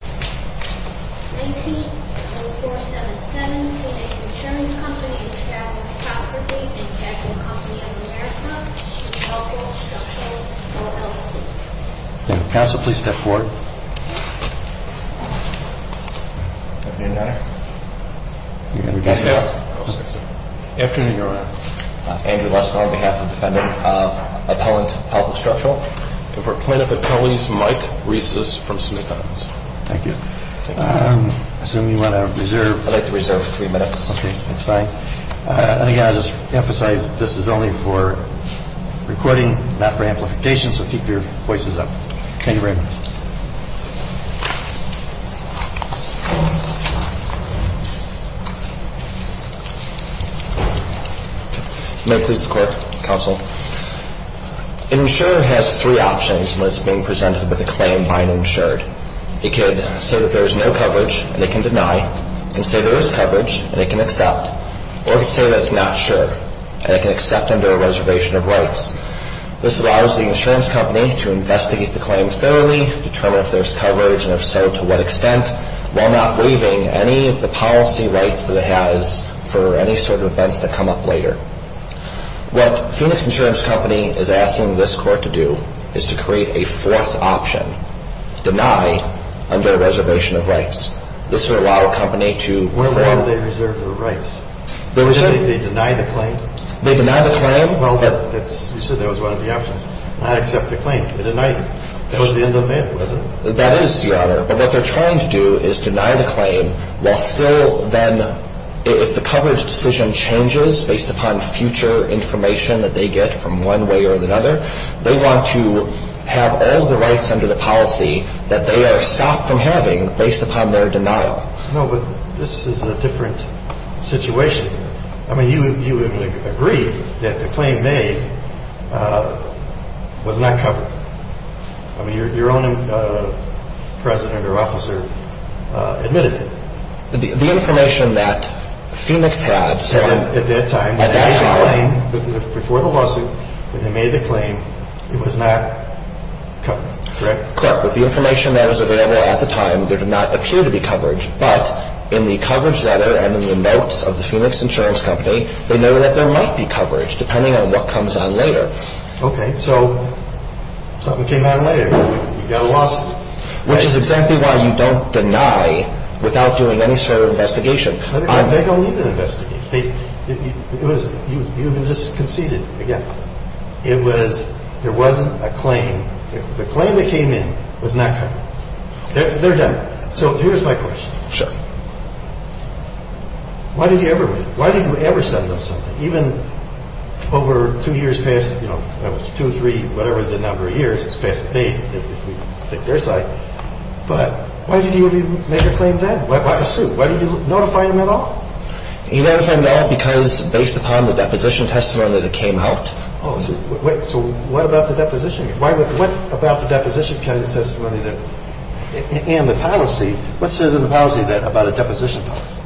19-0477. Today's insurance company is Charles Coperty & Capital Company of America, with Pelco Structural, LLC. Counsel, please step forward. Good afternoon, Your Honor. Good afternoon, Your Honor. Andrew Lesnar, on behalf of the defendant, appellant Pelco Structural. And for plaintiff attorneys, Mike Rieses from Smith-Owens. Thank you. I assume you want to reserve. I'd like to reserve three minutes. Okay, that's fine. And again, I'll just emphasize this is only for recording, not for amplification, so keep your voices up. Thank you very much. May I please the court, Counsel? An insurer has three options when it's being presented with a claim by an insured. It could say that there is no coverage, and it can deny. It can say there is coverage, and it can accept. Or it could say that it's not sure, and it can accept under a reservation of rights. This allows the insurance company to investigate the claim thoroughly, determine if there's coverage, and if so, to what extent, while not waiving any of the policy rights that it has for any sort of events that come up later. What Phoenix Insurance Company is asking this court to do is to create a fourth option, deny under a reservation of rights. This would allow a company to frame. Where would they reserve their rights? They deny the claim. They deny the claim. Well, you said that was one of the options. Not accept the claim. Deny. That was the end of it, wasn't it? That is, Your Honor. But what they're trying to do is deny the claim while still then, if the coverage decision changes based upon future information that they get from one way or another, they want to have all the rights under the policy that they are stopped from having based upon their denial. No, but this is a different situation. I mean, you agree that the claim made was not covered. I mean, your own president or officer admitted it. The information that Phoenix had. At that time. At that time. Before the lawsuit that they made the claim, it was not covered, correct? Correct. With the information that was available at the time, there did not appear to be coverage. But in the coverage letter and in the notes of the Phoenix Insurance Company, they know that there might be coverage depending on what comes on later. Okay. So something came out later. You got a lawsuit. Which is exactly why you don't deny without doing any sort of investigation. They don't need to investigate. You can just concede it again. It was, there wasn't a claim. The claim that came in was not covered. They're done. So here's my question. Sure. Why did you ever, why did you ever send them something? and we were, we were trying to get information in, because we really didn't have the time. And even over two years past, two or three, whatever the number of years, two or three years past, they, if we think they're psyched. But why did he even make a claim then? Why, Sue, why did you notify him at all? He notified me at all because, based upon the deposition testimony that came out. Oh, so, wait, so what about the deposition? What about the deposition testimony that, and the policy, what says in the policy about a deposition policy,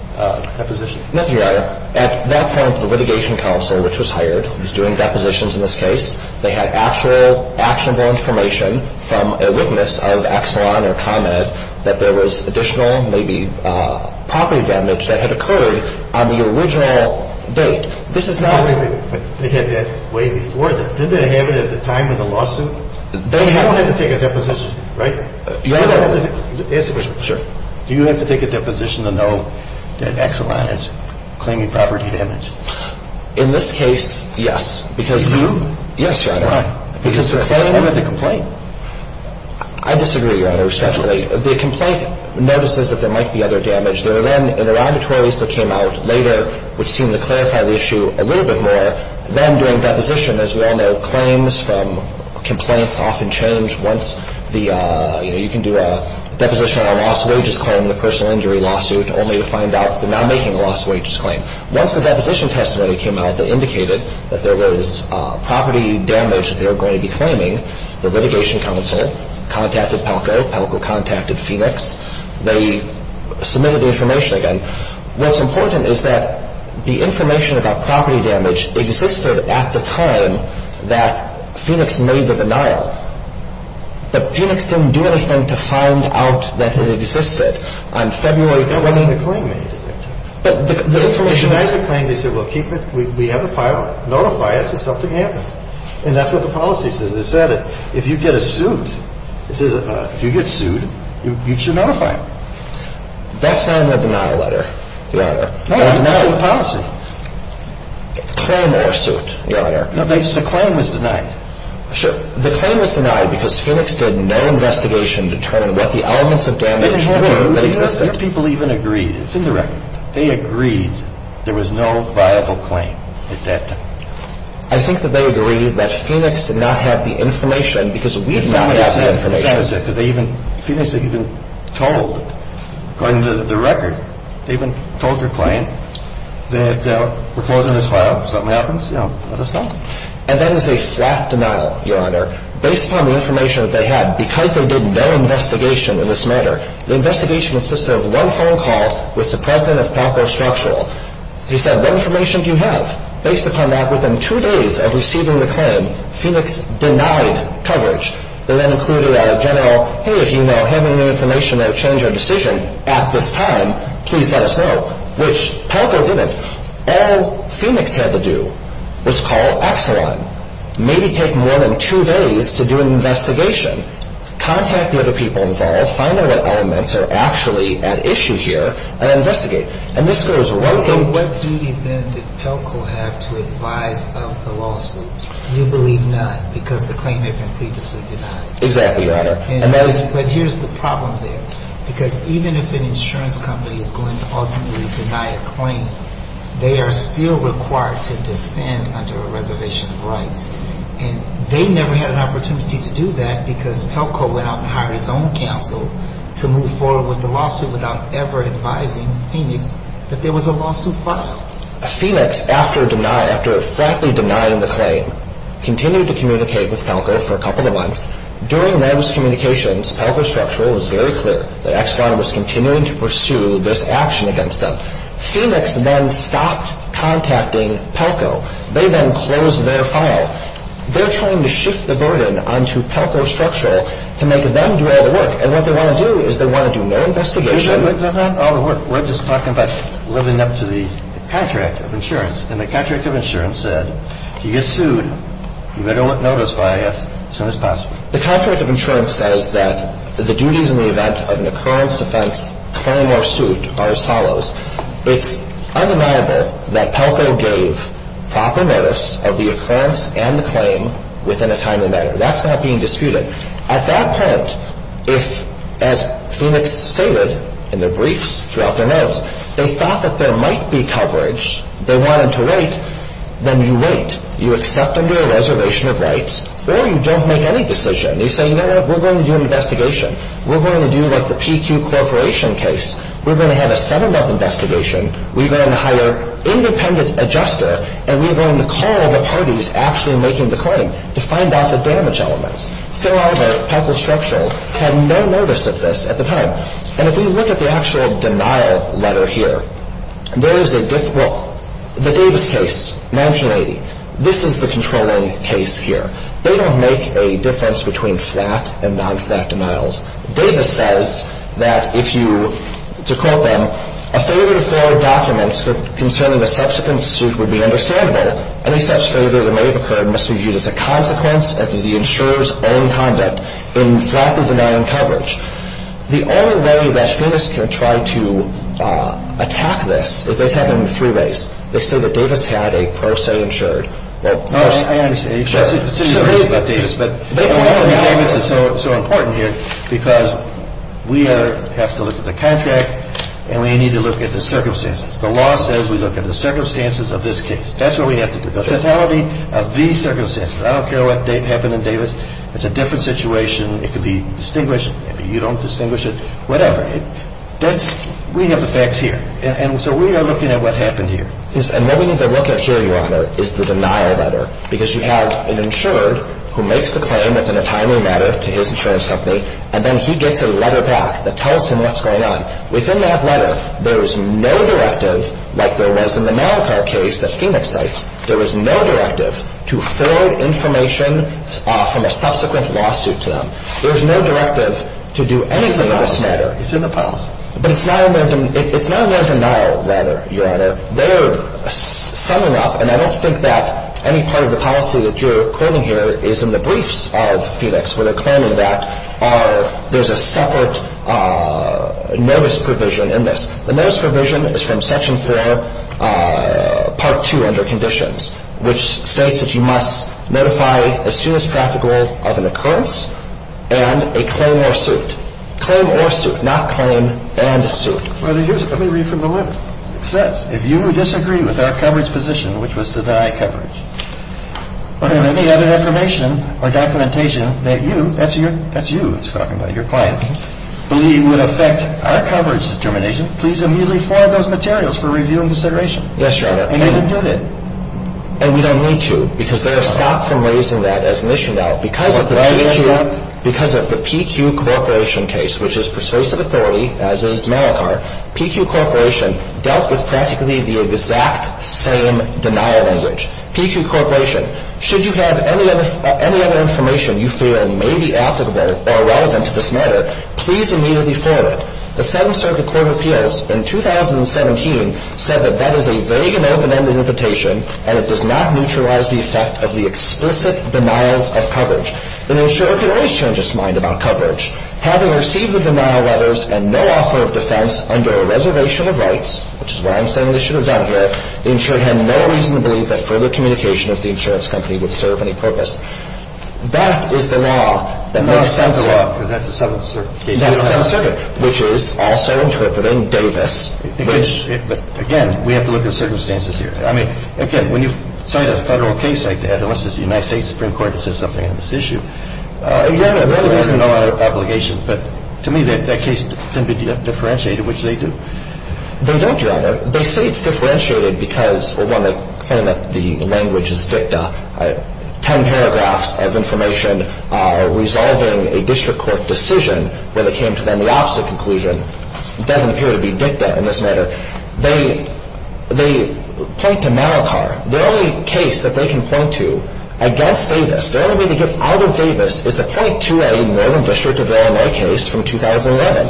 deposition? Nothing, Your Honor. At that point, the litigation counsel, which was hired, was doing depositions in this case. They had actual, actionable information from a witness of Exelon or ComEd that there was additional, maybe, property damage that had occurred on the original date. This is not. Wait, wait, wait. They had that way before. Didn't they have it at the time of the lawsuit? They had. They had to take a deposition, right? Right. Answer me. Sure. Do you have to take a deposition to know that Exelon is claiming property damage? In this case, yes. Do you? Yes, Your Honor. Why? Because they're claiming with a complaint. I disagree, Your Honor, respectfully. The complaint notices that there might be other damage. There are then, there are arbitraries that came out later, which seem to clarify the issue a little bit more. Then, during deposition, as we all know, claims from complaints often change once the, you know, you can do a deposition on a lost wages claim in a personal injury lawsuit, only to find out that they're now making a lost wages claim. Once the deposition testimony came out that indicated that there was property damage that they were going to be claiming, the litigation counsel contacted Pelko. Pelko contacted Phoenix. They submitted the information again. What's important is that the information about property damage existed at the time that Phoenix made the denial. But Phoenix didn't do anything to find out that it existed. On February 20th. They denied the claim. They denied the claim. They said, well, keep it. We have a file. Notify us if something happens. And that's what the policy said. It said if you get a suit, it says if you get sued, you should notify them. That's not in the denial letter, Your Honor. No, that's in the policy. Claim or suit, Your Honor. No, the claim was denied. Sure. The claim was denied because Phoenix did no investigation to determine what the elements of damage were that existed. Some people even agreed. It's in the record. They agreed there was no viable claim at that time. I think that they agreed that Phoenix did not have the information because we did not have the information. Phoenix even told, according to the record, they even told their claim that we're closing this file. If something happens, let us know. And that is a flat denial, Your Honor. Based upon the information that they had, because they did no investigation in this matter, the investigation consisted of one phone call with the president of Palco Structural. He said, what information do you have? Based upon that, within two days of receiving the claim, Phoenix denied coverage. They then included a general, hey, if you know any information that would change your decision at this time, please let us know, which Palco didn't. All Phoenix had to do was call Exelon, maybe take more than two days to do an investigation, contact the other people involved, find out that elements are actually at issue here, and investigate. And this goes right to the – So what duty then did Palco have to advise of the lawsuit? You believe none because the claim had been previously denied. Exactly, Your Honor. But here's the problem there, because even if an insurance company is going to ultimately deny a claim, they are still required to defend under a reservation of rights. And they never had an opportunity to do that because Palco went out and hired its own counsel to move forward with the lawsuit without ever advising Phoenix that there was a lawsuit filed. Phoenix, after frankly denying the claim, continued to communicate with Palco for a couple of months. During those communications, Palco Structural was very clear that Exelon was continuing to pursue this action against them. Phoenix then stopped contacting Palco. They then closed their file. They're trying to shift the burden onto Palco Structural to make them do all the work. And what they want to do is they want to do no investigation. We're just talking about living up to the contract of insurance. And the contract of insurance said, if you get sued, you better notify us as soon as possible. The contract of insurance says that the duties in the event of an occurrence, offense, claim, or suit are as follows. It's undeniable that Palco gave proper notice of the occurrence and the claim within a timely manner. That's not being disputed. At that point, if, as Phoenix stated in their briefs throughout their notice, they thought that there might be coverage, they wanted to wait, then you wait. You accept under a reservation of rights, or you don't make any decision. You say, you know what, we're going to do an investigation. We're going to do, like, the PQ Corporation case. We're going to have a seven-month investigation. We're going to hire independent adjuster, and we're going to call the parties actually making the claim to find out the damage elements. Phil Arbert, Palco Structural, had no notice of this at the time. And if we look at the actual denial letter here, there is a, well, the Davis case, 1980, this is the controlling case here. They don't make a difference between flat and non-flat denials. Davis says that if you, to quote them, a failure to forward documents concerning the subsequent suit would be understandable. Any such failure that may have occurred must be viewed as a consequence of the insurer's own conduct in flatly denying coverage. The only way that Phoenix can try to attack this is they have it in three ways. They say that Davis had a pro se insured. Well, I understand. But Davis is so important here because we have to look at the contract, and we need to look at the circumstances. The law says we look at the circumstances of this case. That's what we have to do, the totality of these circumstances. I don't care what happened in Davis. It's a different situation. It could be distinguished. Maybe you don't distinguish it. Whatever. We have the facts here. And so we are looking at what happened here. Yes, and what we need to look at here, Your Honor, is the denial letter. Because you have an insured who makes the claim that's in a timely manner to his insurance company, and then he gets a letter back that tells him what's going on. Within that letter, there is no directive like there was in the Navicar case that Phoenix cites. There was no directive to forward information from a subsequent lawsuit to them. There's no directive to do anything in this matter. It's in the policy. It's in the policy. But it's not a learned denial letter, Your Honor. They're summing up, and I don't think that any part of the policy that you're quoting here is in the briefs of Phoenix where they're claiming that there's a separate notice provision in this. The notice provision is from Section 4, Part 2 under conditions, which states that you must notify as soon as practical of an occurrence and a claim or suit. Claim or suit, not claim and suit. Let me read from the letter. It says, if you disagree with our coverage position, which was to deny coverage, or have any other information or documentation that you, that's you it's talking about, your client, believe would affect our coverage determination, please immediately forward those materials for review and consideration. Yes, Your Honor. And you can do that. And we don't need to, because they're stopped from raising that as an issue now. Because of the PQ Corporation case, which is persuasive authority, as is Malachar, PQ Corporation dealt with practically the exact same denial language. PQ Corporation, should you have any other information you feel may be applicable or relevant to this matter, please immediately forward it. The Seventh Circuit Court of Appeals in 2017 said that that is a vague and open-ended invitation and it does not neutralize the effect of the explicit denials of coverage. The insurer could always change its mind about coverage. Having received the denial letters and no offer of defense under a reservation of rights, which is what I'm saying they should have done here, the insurer had no reason to believe that further communication of the insurance company would serve any purpose. That is the law. And that's the law because that's the Seventh Circuit case. That's the Seventh Circuit, which is also interpreting Davis. But, again, we have to look at circumstances here. I mean, again, when you cite a Federal case like that, unless it's the United States Supreme Court that says something on this issue, you have no obligation. But to me, that case can be differentiated, which they do. They don't, Your Honor. They say it's differentiated because, well, they claim that the language is dicta. Ten paragraphs of information are resolving a district court decision where they came to then the opposite conclusion. It doesn't appear to be dicta in this matter. They point to Malachar. The only case that they can point to against Davis, the only way to get out of Davis, is to point to a Northern District of Illinois case from 2011,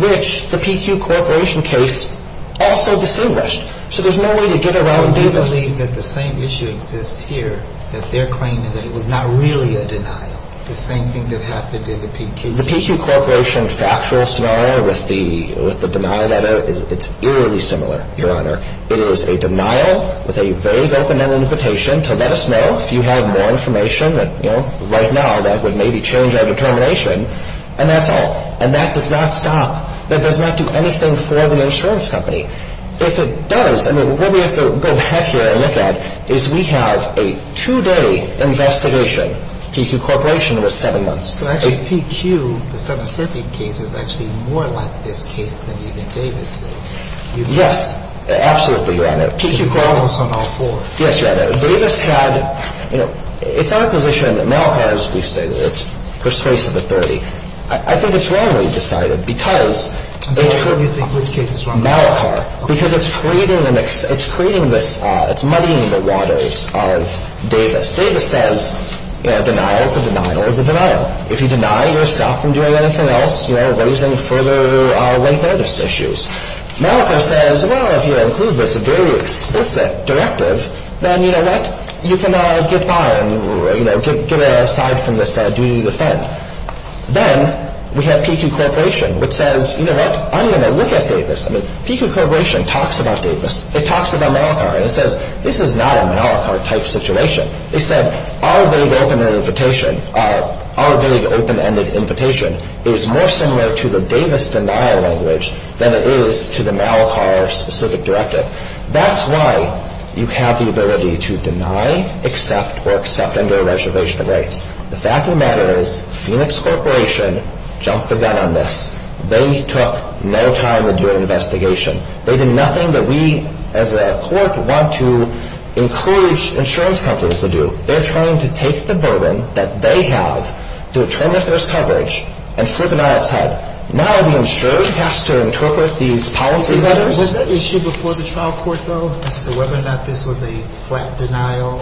which the PQ Corporation case also distinguished. So there's no way to get around Davis. Do you believe that the same issue exists here, that they're claiming that it was not really a denial, the same thing that happened in the PQ case? The PQ Corporation factual scenario with the denial letter, it's eerily similar, Your Honor. It is a denial with a vague open-ended invitation to let us know if you have more information that, you know, right now that would maybe change our determination. And that's all. And that does not stop. That does not do anything for the insurance company. If it does, I mean, what we have to go back here and look at is we have a two-day investigation. PQ Corporation was seven months. So actually PQ, the 7th Circuit case, is actually more like this case than even Davis is. Yes. Absolutely, Your Honor. Because it's almost on all four. Yes, Your Honor. Davis had, you know, it's our position that Malachar, as we stated, it's persuasive at 30. I think it's wrongly decided because it's Malachar. Malachar. Because it's creating a mix. It's creating this, it's muddying the waters of Davis. Davis says, you know, denial is a denial is a denial. If you deny, you're stopped from doing anything else, you know, raising further late notice issues. Malachar says, well, if you include this very explicit directive, then, you know what, you can get by and, you know, get aside from this duty to defend. Then we have PQ Corporation which says, you know what, I'm going to look at Davis. I mean, PQ Corporation talks about Davis. It talks about Malachar. And it says, this is not a Malachar type situation. They said, our vague open-ended invitation is more similar to the Davis denial language than it is to the Malachar specific directive. That's why you have the ability to deny, accept, or accept under a reservation of rights. The fact of the matter is Phoenix Corporation jumped the gun on this. They took no time to do an investigation. They did nothing that we as a court want to encourage insurance companies to do. They're trying to take the burden that they have to determine if there's coverage and flip it on its head. Now the insurer has to interpret these policy letters. Was that issue before the trial court, though, as to whether or not this was a flat denial?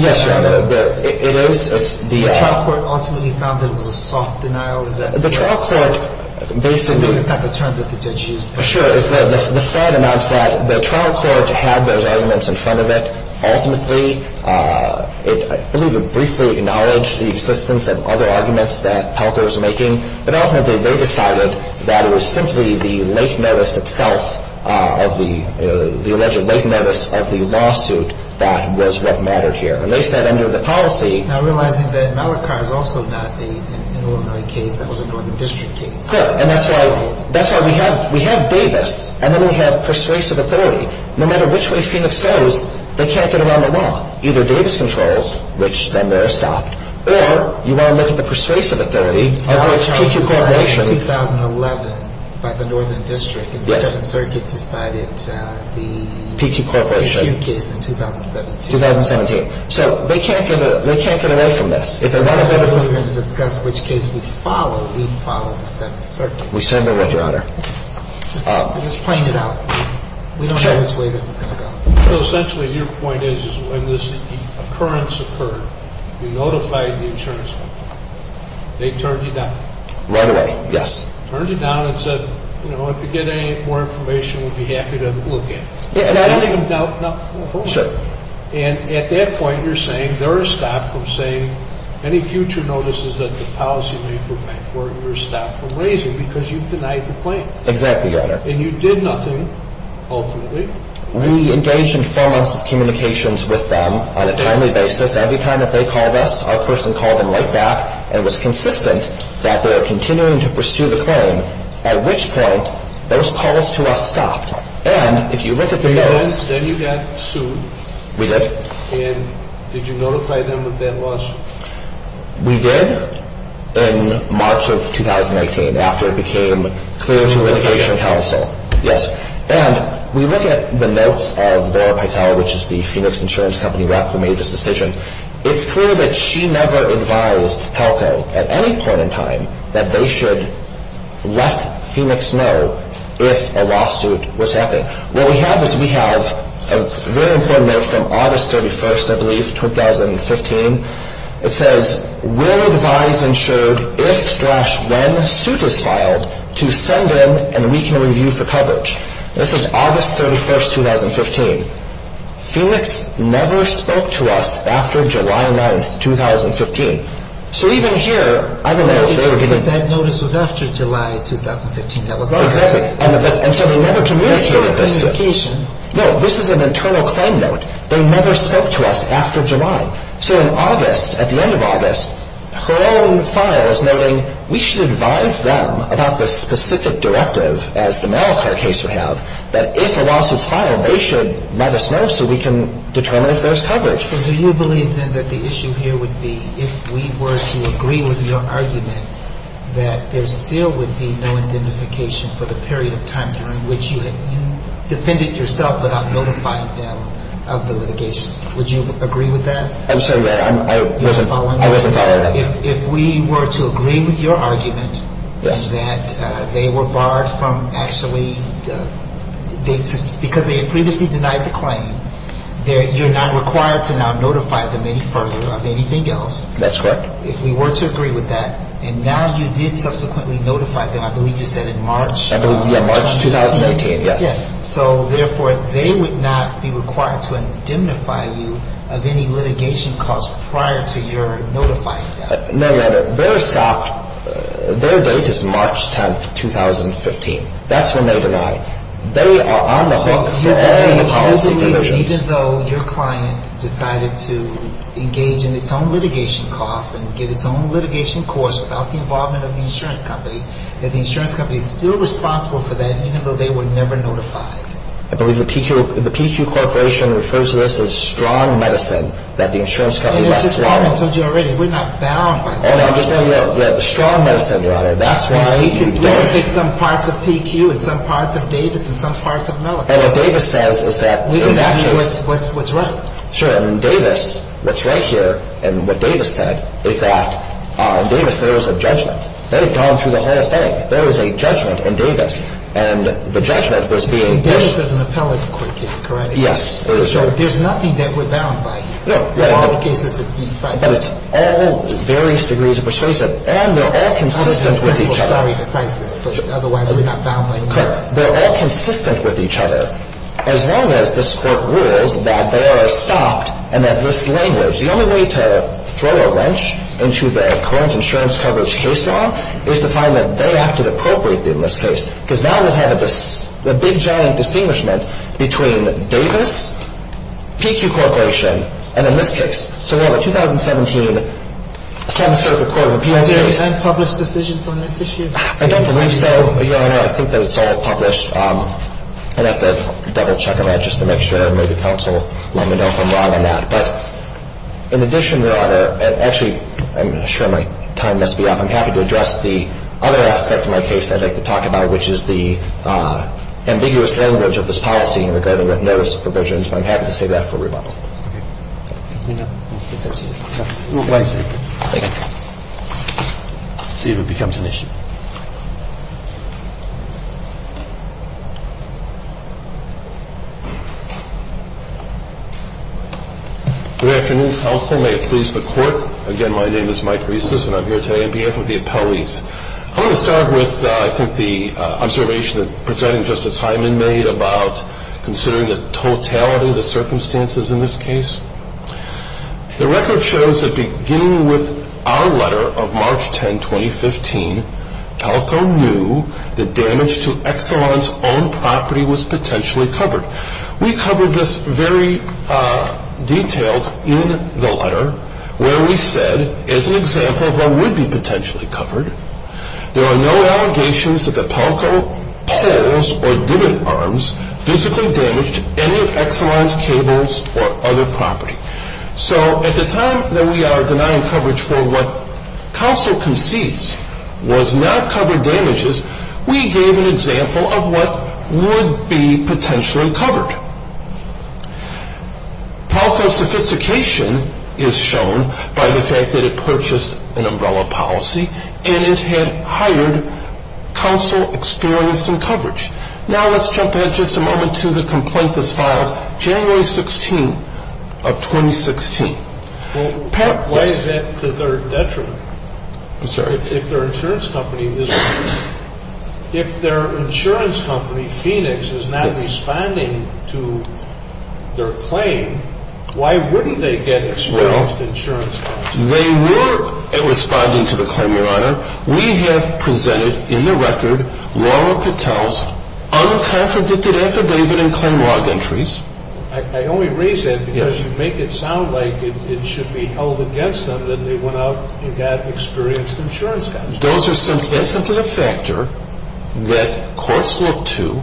Yes, Your Honor. It is. The trial court ultimately found that it was a soft denial. The trial court basically – It's not the term that the judge used. Sure. It's the flat or non-flat. The trial court had those arguments in front of it. Ultimately, it briefly acknowledged the existence of other arguments that Pelker was making. But ultimately, they decided that it was simply the late notice itself of the alleged late notice of the lawsuit that was what mattered here. And they said under the policy – Look, and that's why we have Davis, and then we have persuasive authority. No matter which way Phoenix goes, they can't get around the law. Either Davis controls, which then they're stopped, or you want to look at the persuasive authority of which PQ Corporation – A lot of charges were signed in 2011 by the Northern District, and the Seventh Circuit decided the PQ case in 2017. 2017. So they can't get away from this. We're going to discuss which case we follow. We follow the Seventh Circuit. We stand by that, Your Honor. We're just playing it out. We don't know which way this is going to go. So essentially, your point is when this occurrence occurred, you notified the insurance company. They turned you down. Right away, yes. Turned you down and said, you know, if you get any more information, we'll be happy to look at it. Yeah. And at that point, you're saying they're stopped from saying any future notices that the policy may provide for, you're stopped from raising because you've denied the claim. Exactly, Your Honor. And you did nothing ultimately. We engaged in four months of communications with them on a timely basis. Every time that they called us, our person called them right back and was consistent that they were continuing to pursue the claim, at which point those calls to us stopped. And if you look at the notes. Then you got sued. We did. And did you notify them of that lawsuit? We did in March of 2019 after it became clear to litigation counsel. Yes. And we look at the notes of Laura Pytel, which is the Phoenix Insurance Company rep who made this decision. It's clear that she never advised HELCO at any point in time that they should let Phoenix know if a lawsuit was happening. What we have is we have a very important note from August 31st, I believe, 2015. It says, We'll advise insured if slash when a suit is filed to send in and we can review for coverage. This is August 31st, 2015. Phoenix never spoke to us after July 9th, 2015. So even here, I don't know if they were going to. But that notice was after July 2015. Exactly. And so they never communicated this. No, this is an internal claim note. They never spoke to us after July. So in August, at the end of August, her own file is noting, we should advise them about the specific directive, as the Malachar case would have, that if a lawsuit is filed, they should let us know so we can determine if there's coverage. So do you believe, then, that the issue here would be, if we were to agree with your argument, that there still would be no identification for the period of time during which you defended yourself without notifying them of the litigation? Would you agree with that? I'm sorry, Your Honor, I wasn't following that. If we were to agree with your argument that they were barred from actually because they had previously denied the claim, you're not required to now notify them any further of anything else. That's correct. If we were to agree with that, and now you did subsequently notify them, I believe you said in March. I believe, yeah, March 2018, yes. So, therefore, they would not be required to indemnify you of any litigation caused prior to your notifying them. No, Your Honor, their stop, their date is March 10, 2015. That's when they denied. They are on the hook forever in the policy provisions. So do you believe, even though your client decided to engage in its own litigation costs and get its own litigation course without the involvement of the insurance company, that the insurance company is still responsible for that, even though they were never notified? I believe the PQ Corporation refers to this as strong medicine, that the insurance company less likely. And it's just something I told you already. We're not bound by that. Oh, no, I'm just saying that you have strong medicine, Your Honor. We can take some parts of PQ and some parts of Davis and some parts of Mellick. And what Davis says is that in that case. We can give you what's right. Sure. In Davis, what's right here, and what Davis said, is that in Davis there was a judgment. They had gone through the whole thing. There was a judgment in Davis, and the judgment was being... In Davis there's an appellate court case, correct? Yes, there is. So there's nothing that we're bound by. No. All the cases that's being cited. But it's all various degrees of persuasive. And they're all consistent with each other. I'm just a little sorry to say this, but otherwise we're not bound by... They're all consistent with each other. As long as this court rules that they are stopped and that this language... The only way to throw a wrench into the current insurance coverage case law is to find that they acted appropriately in this case. Because now we have a big, giant distinguishment between Davis, PQ Corporation, and in this case. So we have a 2017 semester of the court of appeals. Are there any time-published decisions on this issue? I don't believe so, Your Honor. I think that it's all published. I'd have to double-check on that just to make sure. Maybe counsel let me know if I'm wrong on that. But in addition, Your Honor... Actually, I'm sure my time must be up. I'm happy to address the other aspect of my case I'd like to talk about, which is the ambiguous language of this policy regarding notice of provisions. But I'm happy to save that for rebuttal. No, it's absolutely fine. Thanks. Thank you. Let's see if it becomes an issue. Good afternoon, counsel. May it please the Court. Again, my name is Mike Reces, and I'm here today on behalf of the appellees. I'm going to start with, I think, the observation that Presiding Justice Hyman made about considering the totality of the circumstances in this case. The record shows that beginning with our letter of March 10, 2015, PELCO knew that damage to Exelon's own property was potentially covered. We covered this very detailed in the letter, where we said, as an example of what would be potentially covered, there are no allegations that the PELCO pulls or dimming arms physically damaged any Exelon's cables or other property. So at the time that we are denying coverage for what counsel concedes was not covered damages, we gave an example of what would be potentially covered. PELCO's sophistication is shown by the fact that it purchased an umbrella policy and it had hired counsel experienced in coverage. Now let's jump ahead just a moment to the complaint that's filed January 16 of 2016. Well, why is that to their detriment? I'm sorry. If their insurance company, if their insurance company, Phoenix, is not responding to their claim, why wouldn't they get experienced insurance coverage? Well, they were responding to the claim, Your Honor. We have presented in the record Laura Patel's unconfirmed, addicted, affidavit, and claim log entries. I only raise that because you make it sound like it should be held against them that they went out and got experienced insurance coverage. Those are simply a factor that courts look to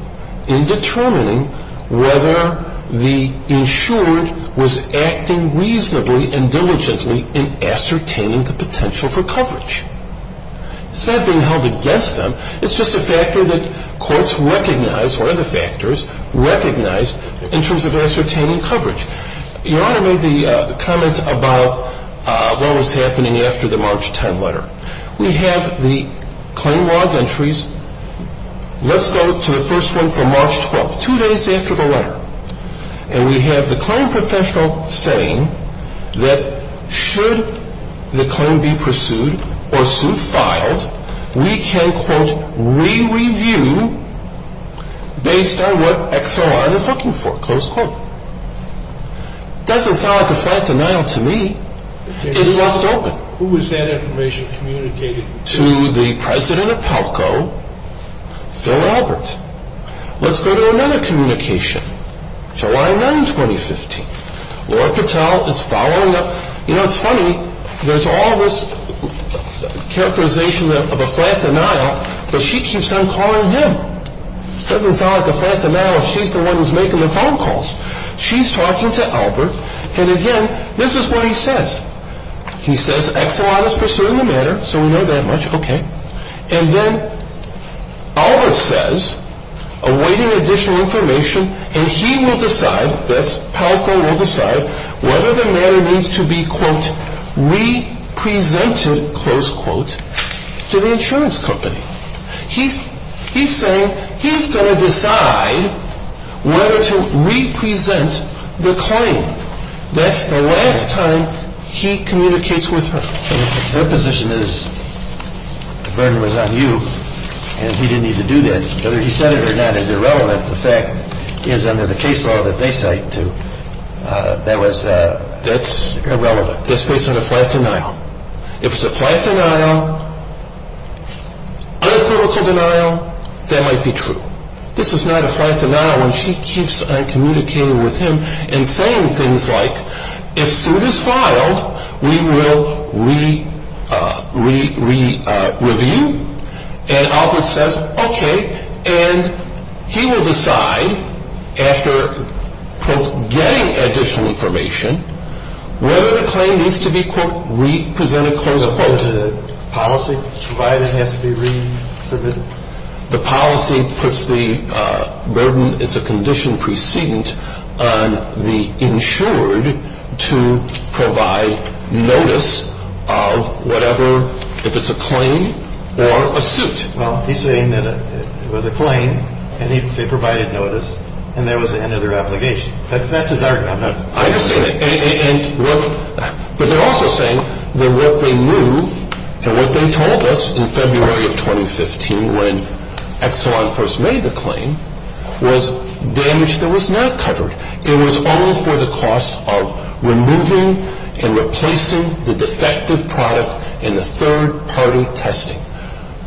in determining whether the insured was acting reasonably and diligently in ascertaining the potential for coverage. It's not being held against them. It's just a factor that courts recognize, or other factors, recognize in terms of ascertaining coverage. Your Honor made the comment about what was happening after the March 10 letter. We have the claim log entries. Let's go to the first one from March 12, two days after the letter. And we have the claim professional saying that should the claim be pursued or sued, filed, we can, quote, re-review based on what Exelon is looking for, close quote. Doesn't sound like a flat denial to me. It's left open. Who is that information communicated to? To the president of PELCO, Phil Albert. Let's go to another communication. July 9, 2015. Laura Patel is following up. You know, it's funny. There's all this characterization of a flat denial, but she keeps on calling him. Doesn't sound like a flat denial if she's the one who's making the phone calls. She's talking to Albert, and again, this is what he says. He says Exelon is pursuing the matter, so we know that much. Okay. And then Albert says, awaiting additional information, and he will decide, that's PELCO will decide, whether the matter needs to be, quote, re-presented, close quote, to the insurance company. He's saying he's going to decide whether to re-present the claim. That's the last time he communicates with her. Her position is, the burden was on you, and he didn't need to do that. Whether he said it or not is irrelevant. The fact is, under the case law that they cite to, that was irrelevant. That's based on a flat denial. If it's a flat denial, uncritical denial, that might be true. This is not a flat denial when she keeps on communicating with him and saying things like, if suit is filed, we will re-review. And Albert says, okay, and he will decide, after getting additional information, whether the claim needs to be, quote, re-presented, close quote. The policy provided has to be re-submitted. The policy puts the burden, it's a condition precedent, on the insured to provide notice of whatever, if it's a claim or a suit. Well, he's saying that it was a claim, and they provided notice, and that was the end of their obligation. That's his argument. I understand that. But they're also saying that what they knew and what they told us in February of 2015, when Exelon first made the claim, was damage that was not covered. It was only for the cost of removing and replacing the defective product in the third-party testing.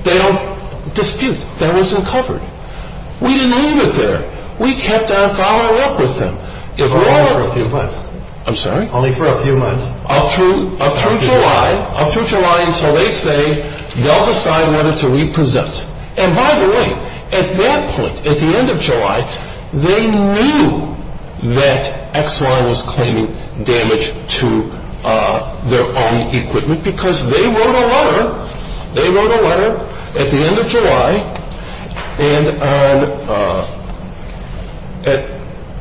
They don't dispute. That wasn't covered. We didn't leave it there. We kept on following up with them. Only for a few months. I'm sorry? Only for a few months. Up through July, up through July until they say they'll decide whether to re-present. And by the way, at that point, at the end of July, they knew that Exelon was claiming damage to their own equipment, because they wrote a letter, they wrote a letter at the end of July, and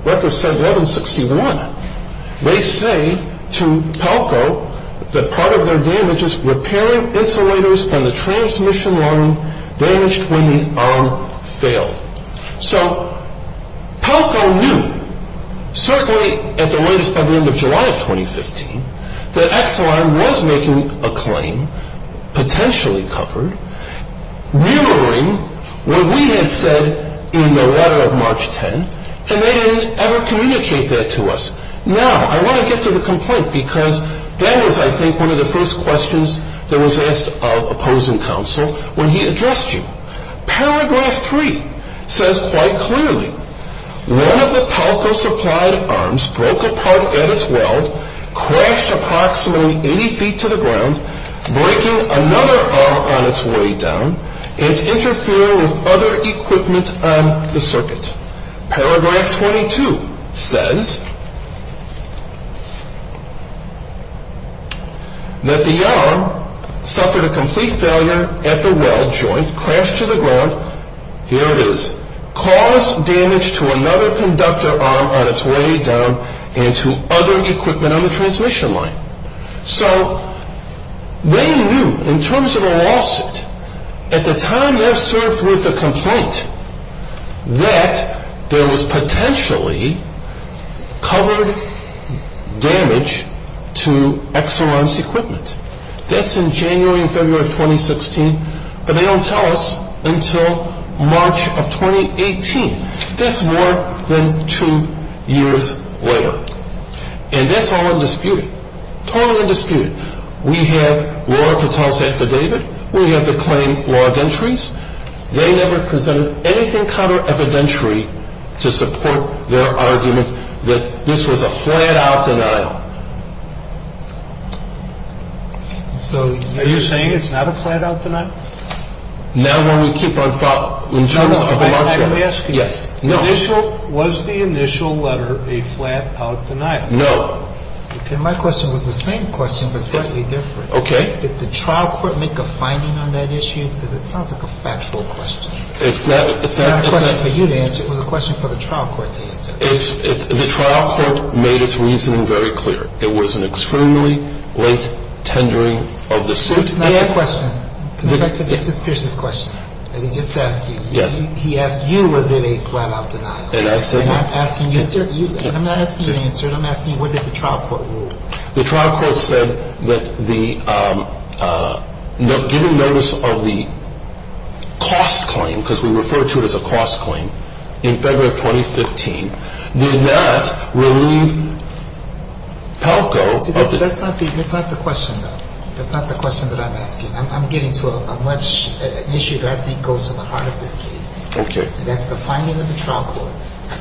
records said 1161. They say to Palco that part of their damage is repairing insulators and the transmission line damaged when the arm failed. So Palco knew, certainly at the latest by the end of July of 2015, that Exelon was making a claim, potentially covered, mirroring what we had said in the letter of March 10, and they didn't ever communicate that to us. Now, I want to get to the complaint, because that was, I think, one of the first questions that was asked of opposing counsel when he addressed you. Paragraph 3 says quite clearly, One of the Palco-supplied arms broke apart at its weld, crashed approximately 80 feet to the ground, breaking another arm on its way down, and interfering with other equipment on the circuit. Paragraph 22 says that the arm suffered a complete failure at the weld joint, crashed to the ground, here it is, caused damage to another conductor arm on its way down and to other equipment on the transmission line. So they knew, in terms of a lawsuit, at the time they served with a complaint that there was potentially covered damage to Exelon's equipment. That's in January and February of 2016, but they don't tell us until March of 2018. That's more than two years later. And that's all undisputed. Totally undisputed. We have Laura Patel's affidavit. We have the claim log entries. They never presented anything counter-evidentiary to support their argument that this was a flat-out denial. So you're saying it's not a flat-out denial? Now, why don't we keep on following... No, no. I'm asking you. Yes. Was the initial letter a flat-out denial? No. My question was the same question, but slightly different. Okay. Did the trial court make a finding on that issue? Because it sounds like a factual question. It's not a question for you to answer. It was a question for the trial court to answer. The trial court made its reasoning very clear. It was an extremely late tendering of the suit. So it's not a question. Can I go back to Justice Pierce's question that he just asked you? Yes. He asked you was it a flat-out denial. And I'm asking you. I'm not asking you to answer it. I'm asking you, what did the trial court rule? The trial court said that given notice of the cost claim, because we refer to it as a cost claim, in February of 2015, did not relieve Palco of it. See, that's not the question, though. That's not the question that I'm asking. I'm getting to a much issue that I think goes to the heart of this case. Okay. And that's the finding of the trial court.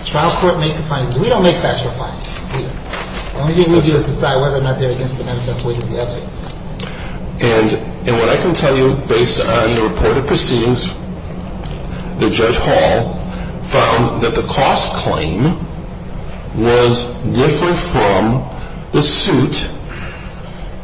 The trial court made the findings. We don't make factual findings. The only thing we do is decide whether or not they're against the manifest way to the evidence. And what I can tell you, based on the reported proceedings, that Judge Hall found that the cost claim was different from the suit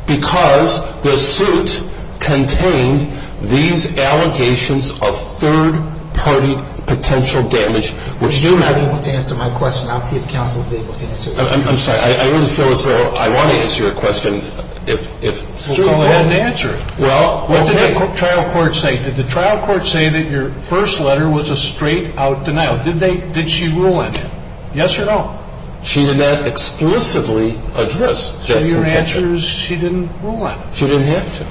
because the suit contained these allegations of third-party potential damage. Since you're not able to answer my question, I'll see if counsel is able to answer yours. I'm sorry. I really feel as though I want to answer your question. Well, go ahead and answer it. Well, what did the trial court say? Did the trial court say that your first letter was a straight-out denial? Did she rule on it? Yes or no? She did not explicitly address that contention. So your answer is she didn't rule on it. She didn't have to.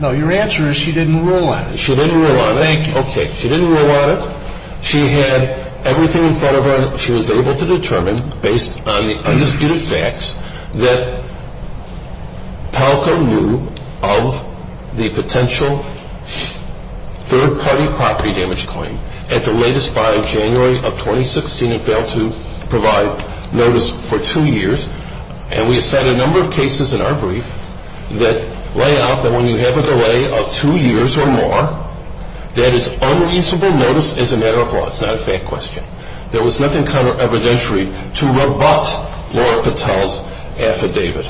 No, your answer is she didn't rule on it. She didn't rule on it. Thank you. Okay. She didn't rule on it. She had everything in front of her. And she was able to determine, based on the undisputed facts, that Palco knew of the potential third-party property damage claim at the latest by January of 2016 and failed to provide notice for two years. And we have said a number of cases in our brief that lay out that when you have a delay of two years or more, that is unreasonable notice as a matter of law. It's not a fact question. There was nothing counter-evidentiary to rebut Laura Patel's affidavit.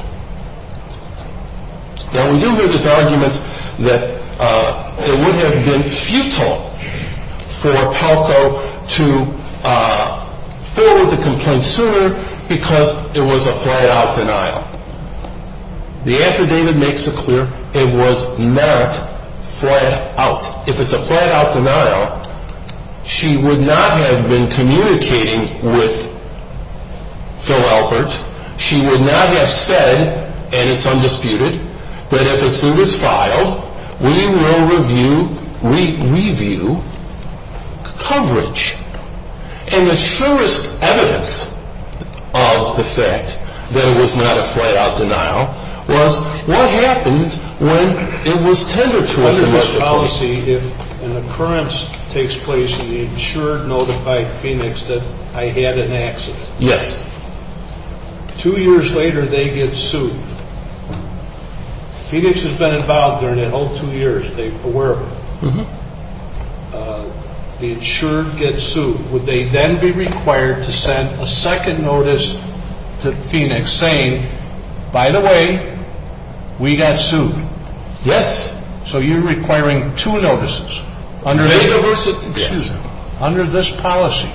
Now, we do hear this argument that it would have been futile for Palco to forward the complaint sooner because it was a flat-out denial. The affidavit makes it clear it was not flat-out. If it's a flat-out denial, she would not have been communicating with Phil Albert. She would not have said, and it's undisputed, that if a suit is filed, we will review coverage. And the surest evidence of the fact that it was not a flat-out denial was what happened when it was tendered to us initially. I have a policy if an occurrence takes place in the insured notified Phoenix that I had an accident. Yes. Two years later, they get sued. Phoenix has been involved during that whole two years. They were aware of it. The insured gets sued. Would they then be required to send a second notice to Phoenix saying, by the way, we got sued? Yes. So you're requiring two notices. Yes. Under this policy,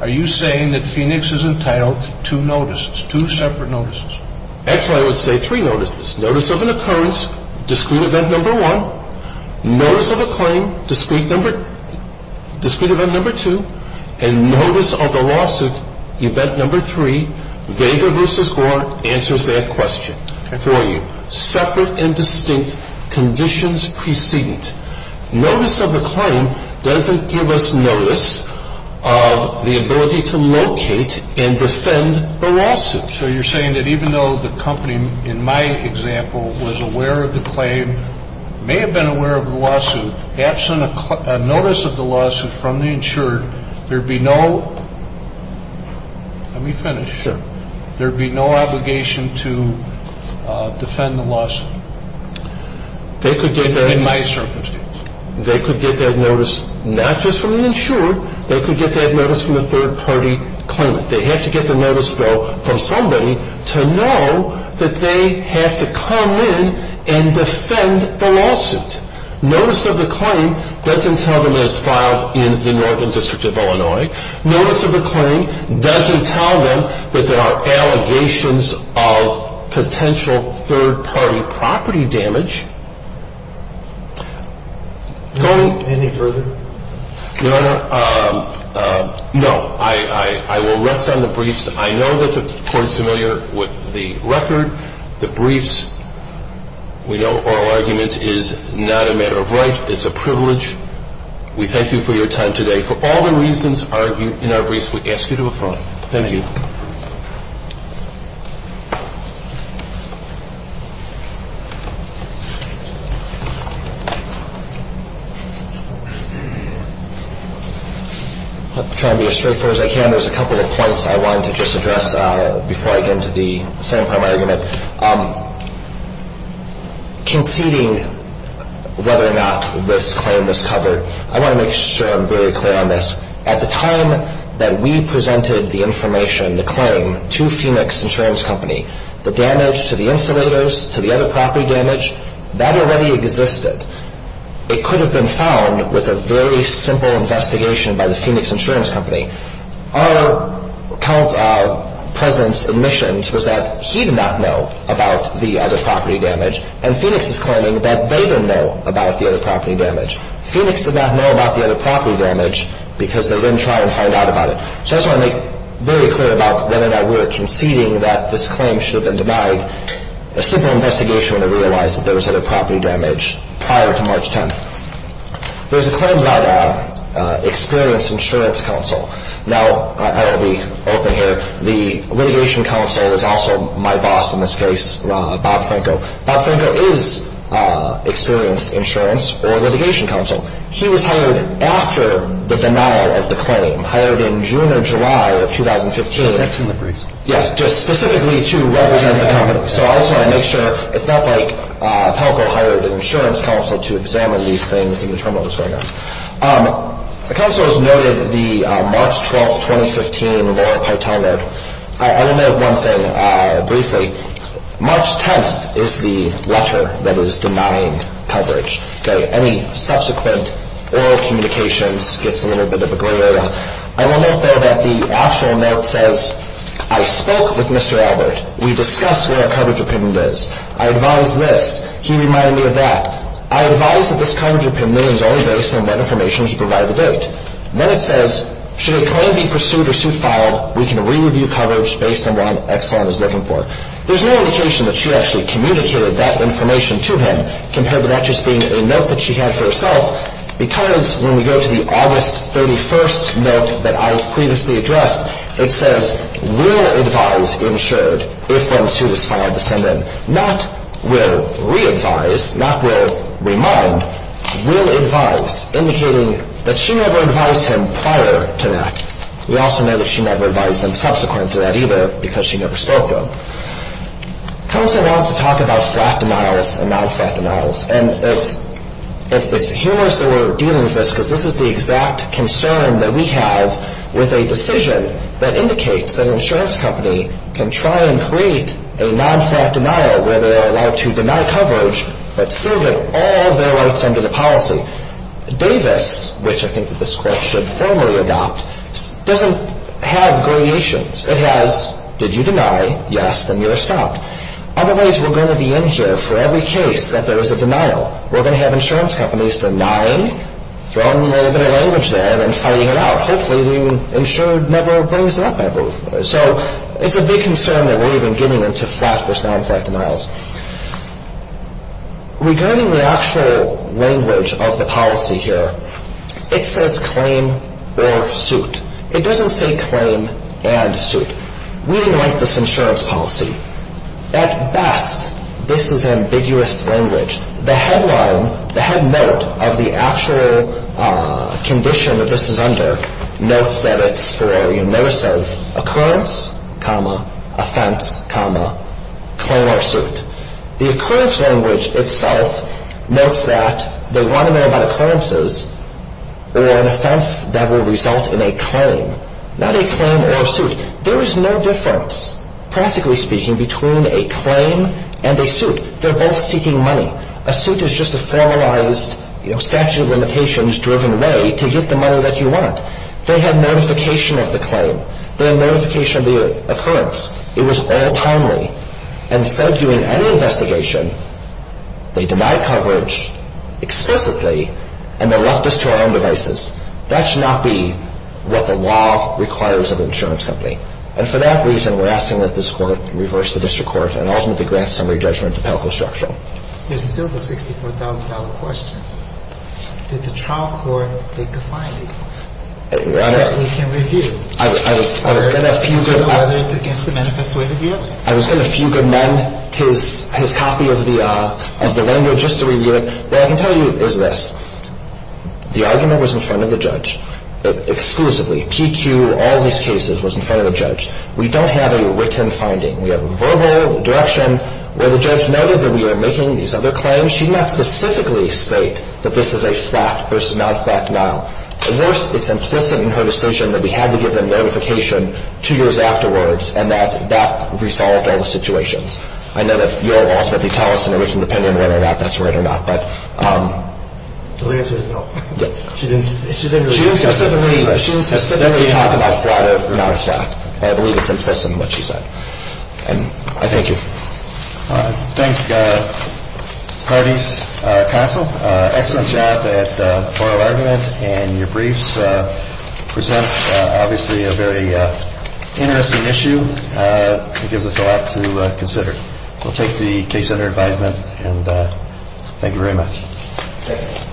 are you saying that Phoenix is entitled to two notices, two separate notices? Actually, I would say three notices. Notice of an occurrence, discrete event number one. Notice of a claim, discrete event number two. And notice of a lawsuit, event number three. Vega v. Orr answers that question for you. Separate and distinct conditions precedent. Notice of a claim doesn't give us notice of the ability to locate and defend a lawsuit. So you're saying that even though the company, in my example, was aware of the claim, may have been aware of the lawsuit, absent a notice of the lawsuit from the insured, there would be no, let me finish. Sure. There would be no obligation to defend the lawsuit in my circumstance. They could get that notice not just from the insured. They could get that notice from a third-party claimant. They have to get the notice, though, from somebody to know that they have to come in and defend the lawsuit. Notice of a claim doesn't tell them it was filed in the Northern District of Illinois. Notice of a claim doesn't tell them that there are allegations of potential third-party property damage. Go ahead. Any further? Your Honor, no. I will rest on the briefs. I know that the court is familiar with the record. The briefs, we know oral argument is not a matter of right. It's a privilege. We thank you for your time today. For all the reasons argued in our briefs, we ask you to apply. Thank you. I'll try to be as straightforward as I can. There's a couple of points I wanted to just address before I get into the second part of my argument. Conceding whether or not this claim was covered, I want to make sure I'm very clear on this. At the time that we presented the information, the claim, to Phoenix Insurance Company, the damage to the insulators, to the other property damage, that already existed. It could have been found with a very simple investigation by the Phoenix Insurance Company. Our president's admission was that he did not know about the other property damage, and Phoenix is claiming that they didn't know about the other property damage. Phoenix did not know about the other property damage because they didn't try and find out about it. So I just want to make very clear about whether or not we were conceding that this claim should have been denied. A simple investigation would have realized that there was other property damage prior to March 10th. There's a claim by the experienced insurance counsel. Now, I will be open here. The litigation counsel is also my boss in this case, Bob Franco. Bob Franco is experienced insurance or litigation counsel. He was hired after the denial of the claim, hired in June or July of 2015. So that's in the briefs. Yes, just specifically to represent the company. So I just want to make sure. It's not like Franco hired an insurance counsel to examine these things and determine what was going on. The counsel has noted the March 12, 2015 Laura Pytel note. I will note one thing briefly. March 10th is the letter that is denying coverage. Any subsequent oral communications gets a little bit of a gray area. I will note there that the actual note says, I spoke with Mr. Albert. We discussed what our coverage opinion is. I advise this. He reminded me of that. I advise that this coverage opinion is only based on what information he provided out. Then it says, should a claim be pursued or suit filed, we can re-review coverage based on what Exxon is looking for. There's no indication that she actually communicated that information to him compared to that just being a note that she had for herself because when we go to the August 31st note that I have previously addressed, it says, will advise insured if one is satisfied to send in. Not will re-advise, not will remind. Will advise, indicating that she never advised him prior to that. We also know that she never advised him subsequent to that either because she never spoke to him. Counsel wants to talk about flat denials and non-flat denials. And it's humorous that we're dealing with this because this is the exact concern that we have with a decision that indicates that an insurance company can try and create a non-flat denial where they are allowed to deny coverage but still get all of their rights under the policy. Davis, which I think that this Court should formally adopt, doesn't have gradations. It has, did you deny? Yes. Then you are stopped. Otherwise, we're going to be in here for every case that there is a denial. We're going to have insurance companies denying, throwing a little bit of language there and fighting it out. Hopefully the insured never brings it up, I believe. So it's a big concern that we're even getting into flat versus non-flat denials. Regarding the actual language of the policy here, it says claim or suit. It doesn't say claim and suit. We like this insurance policy. At best, this is ambiguous language. The headline, the head note of the actual condition that this is under notes that it's for a remorse of occurrence, offense, claim or suit. The occurrence language itself notes that they want to know about occurrences or an offense that will result in a claim, not a claim or a suit. There is no difference, practically speaking, between a claim and a suit. They're both seeking money. A suit is just a formalized statute of limitations driven way to get the money that you want. They have notification of the claim. They have notification of the occurrence. It was all timely and said during any investigation they denied coverage explicitly and they left us to our own devices. That should not be what the law requires of an insurance company. And for that reason, we're asking that this Court reverse the district court and ultimately grant summary judgment to Pelco Structural. There's still the $64,000 question. Did the trial court make a finding that we can review? I was going to few good men his copy of the language just to review it. What I can tell you is this. The argument was in front of the judge exclusively. PQ, all these cases was in front of the judge. We don't have a written finding. We have a verbal direction where the judge noted that we are making these other claims. She did not specifically state that this is a flat versus non-flat denial. Worse, it's implicit in her decision that we had to give them notification two years afterwards and that that resolved all the situations. I know that you'll ultimately tell us in a written opinion whether or not that's right or not, but... The only answer is no. She didn't specifically talk about flat or non-flat. I believe it's implicit in what she said. And I thank you. Thank you, parties. Counsel, excellent job at oral argument and your briefs present obviously a very interesting issue. Give us a lot to consider. We'll take the case under advisement. Thank you very much.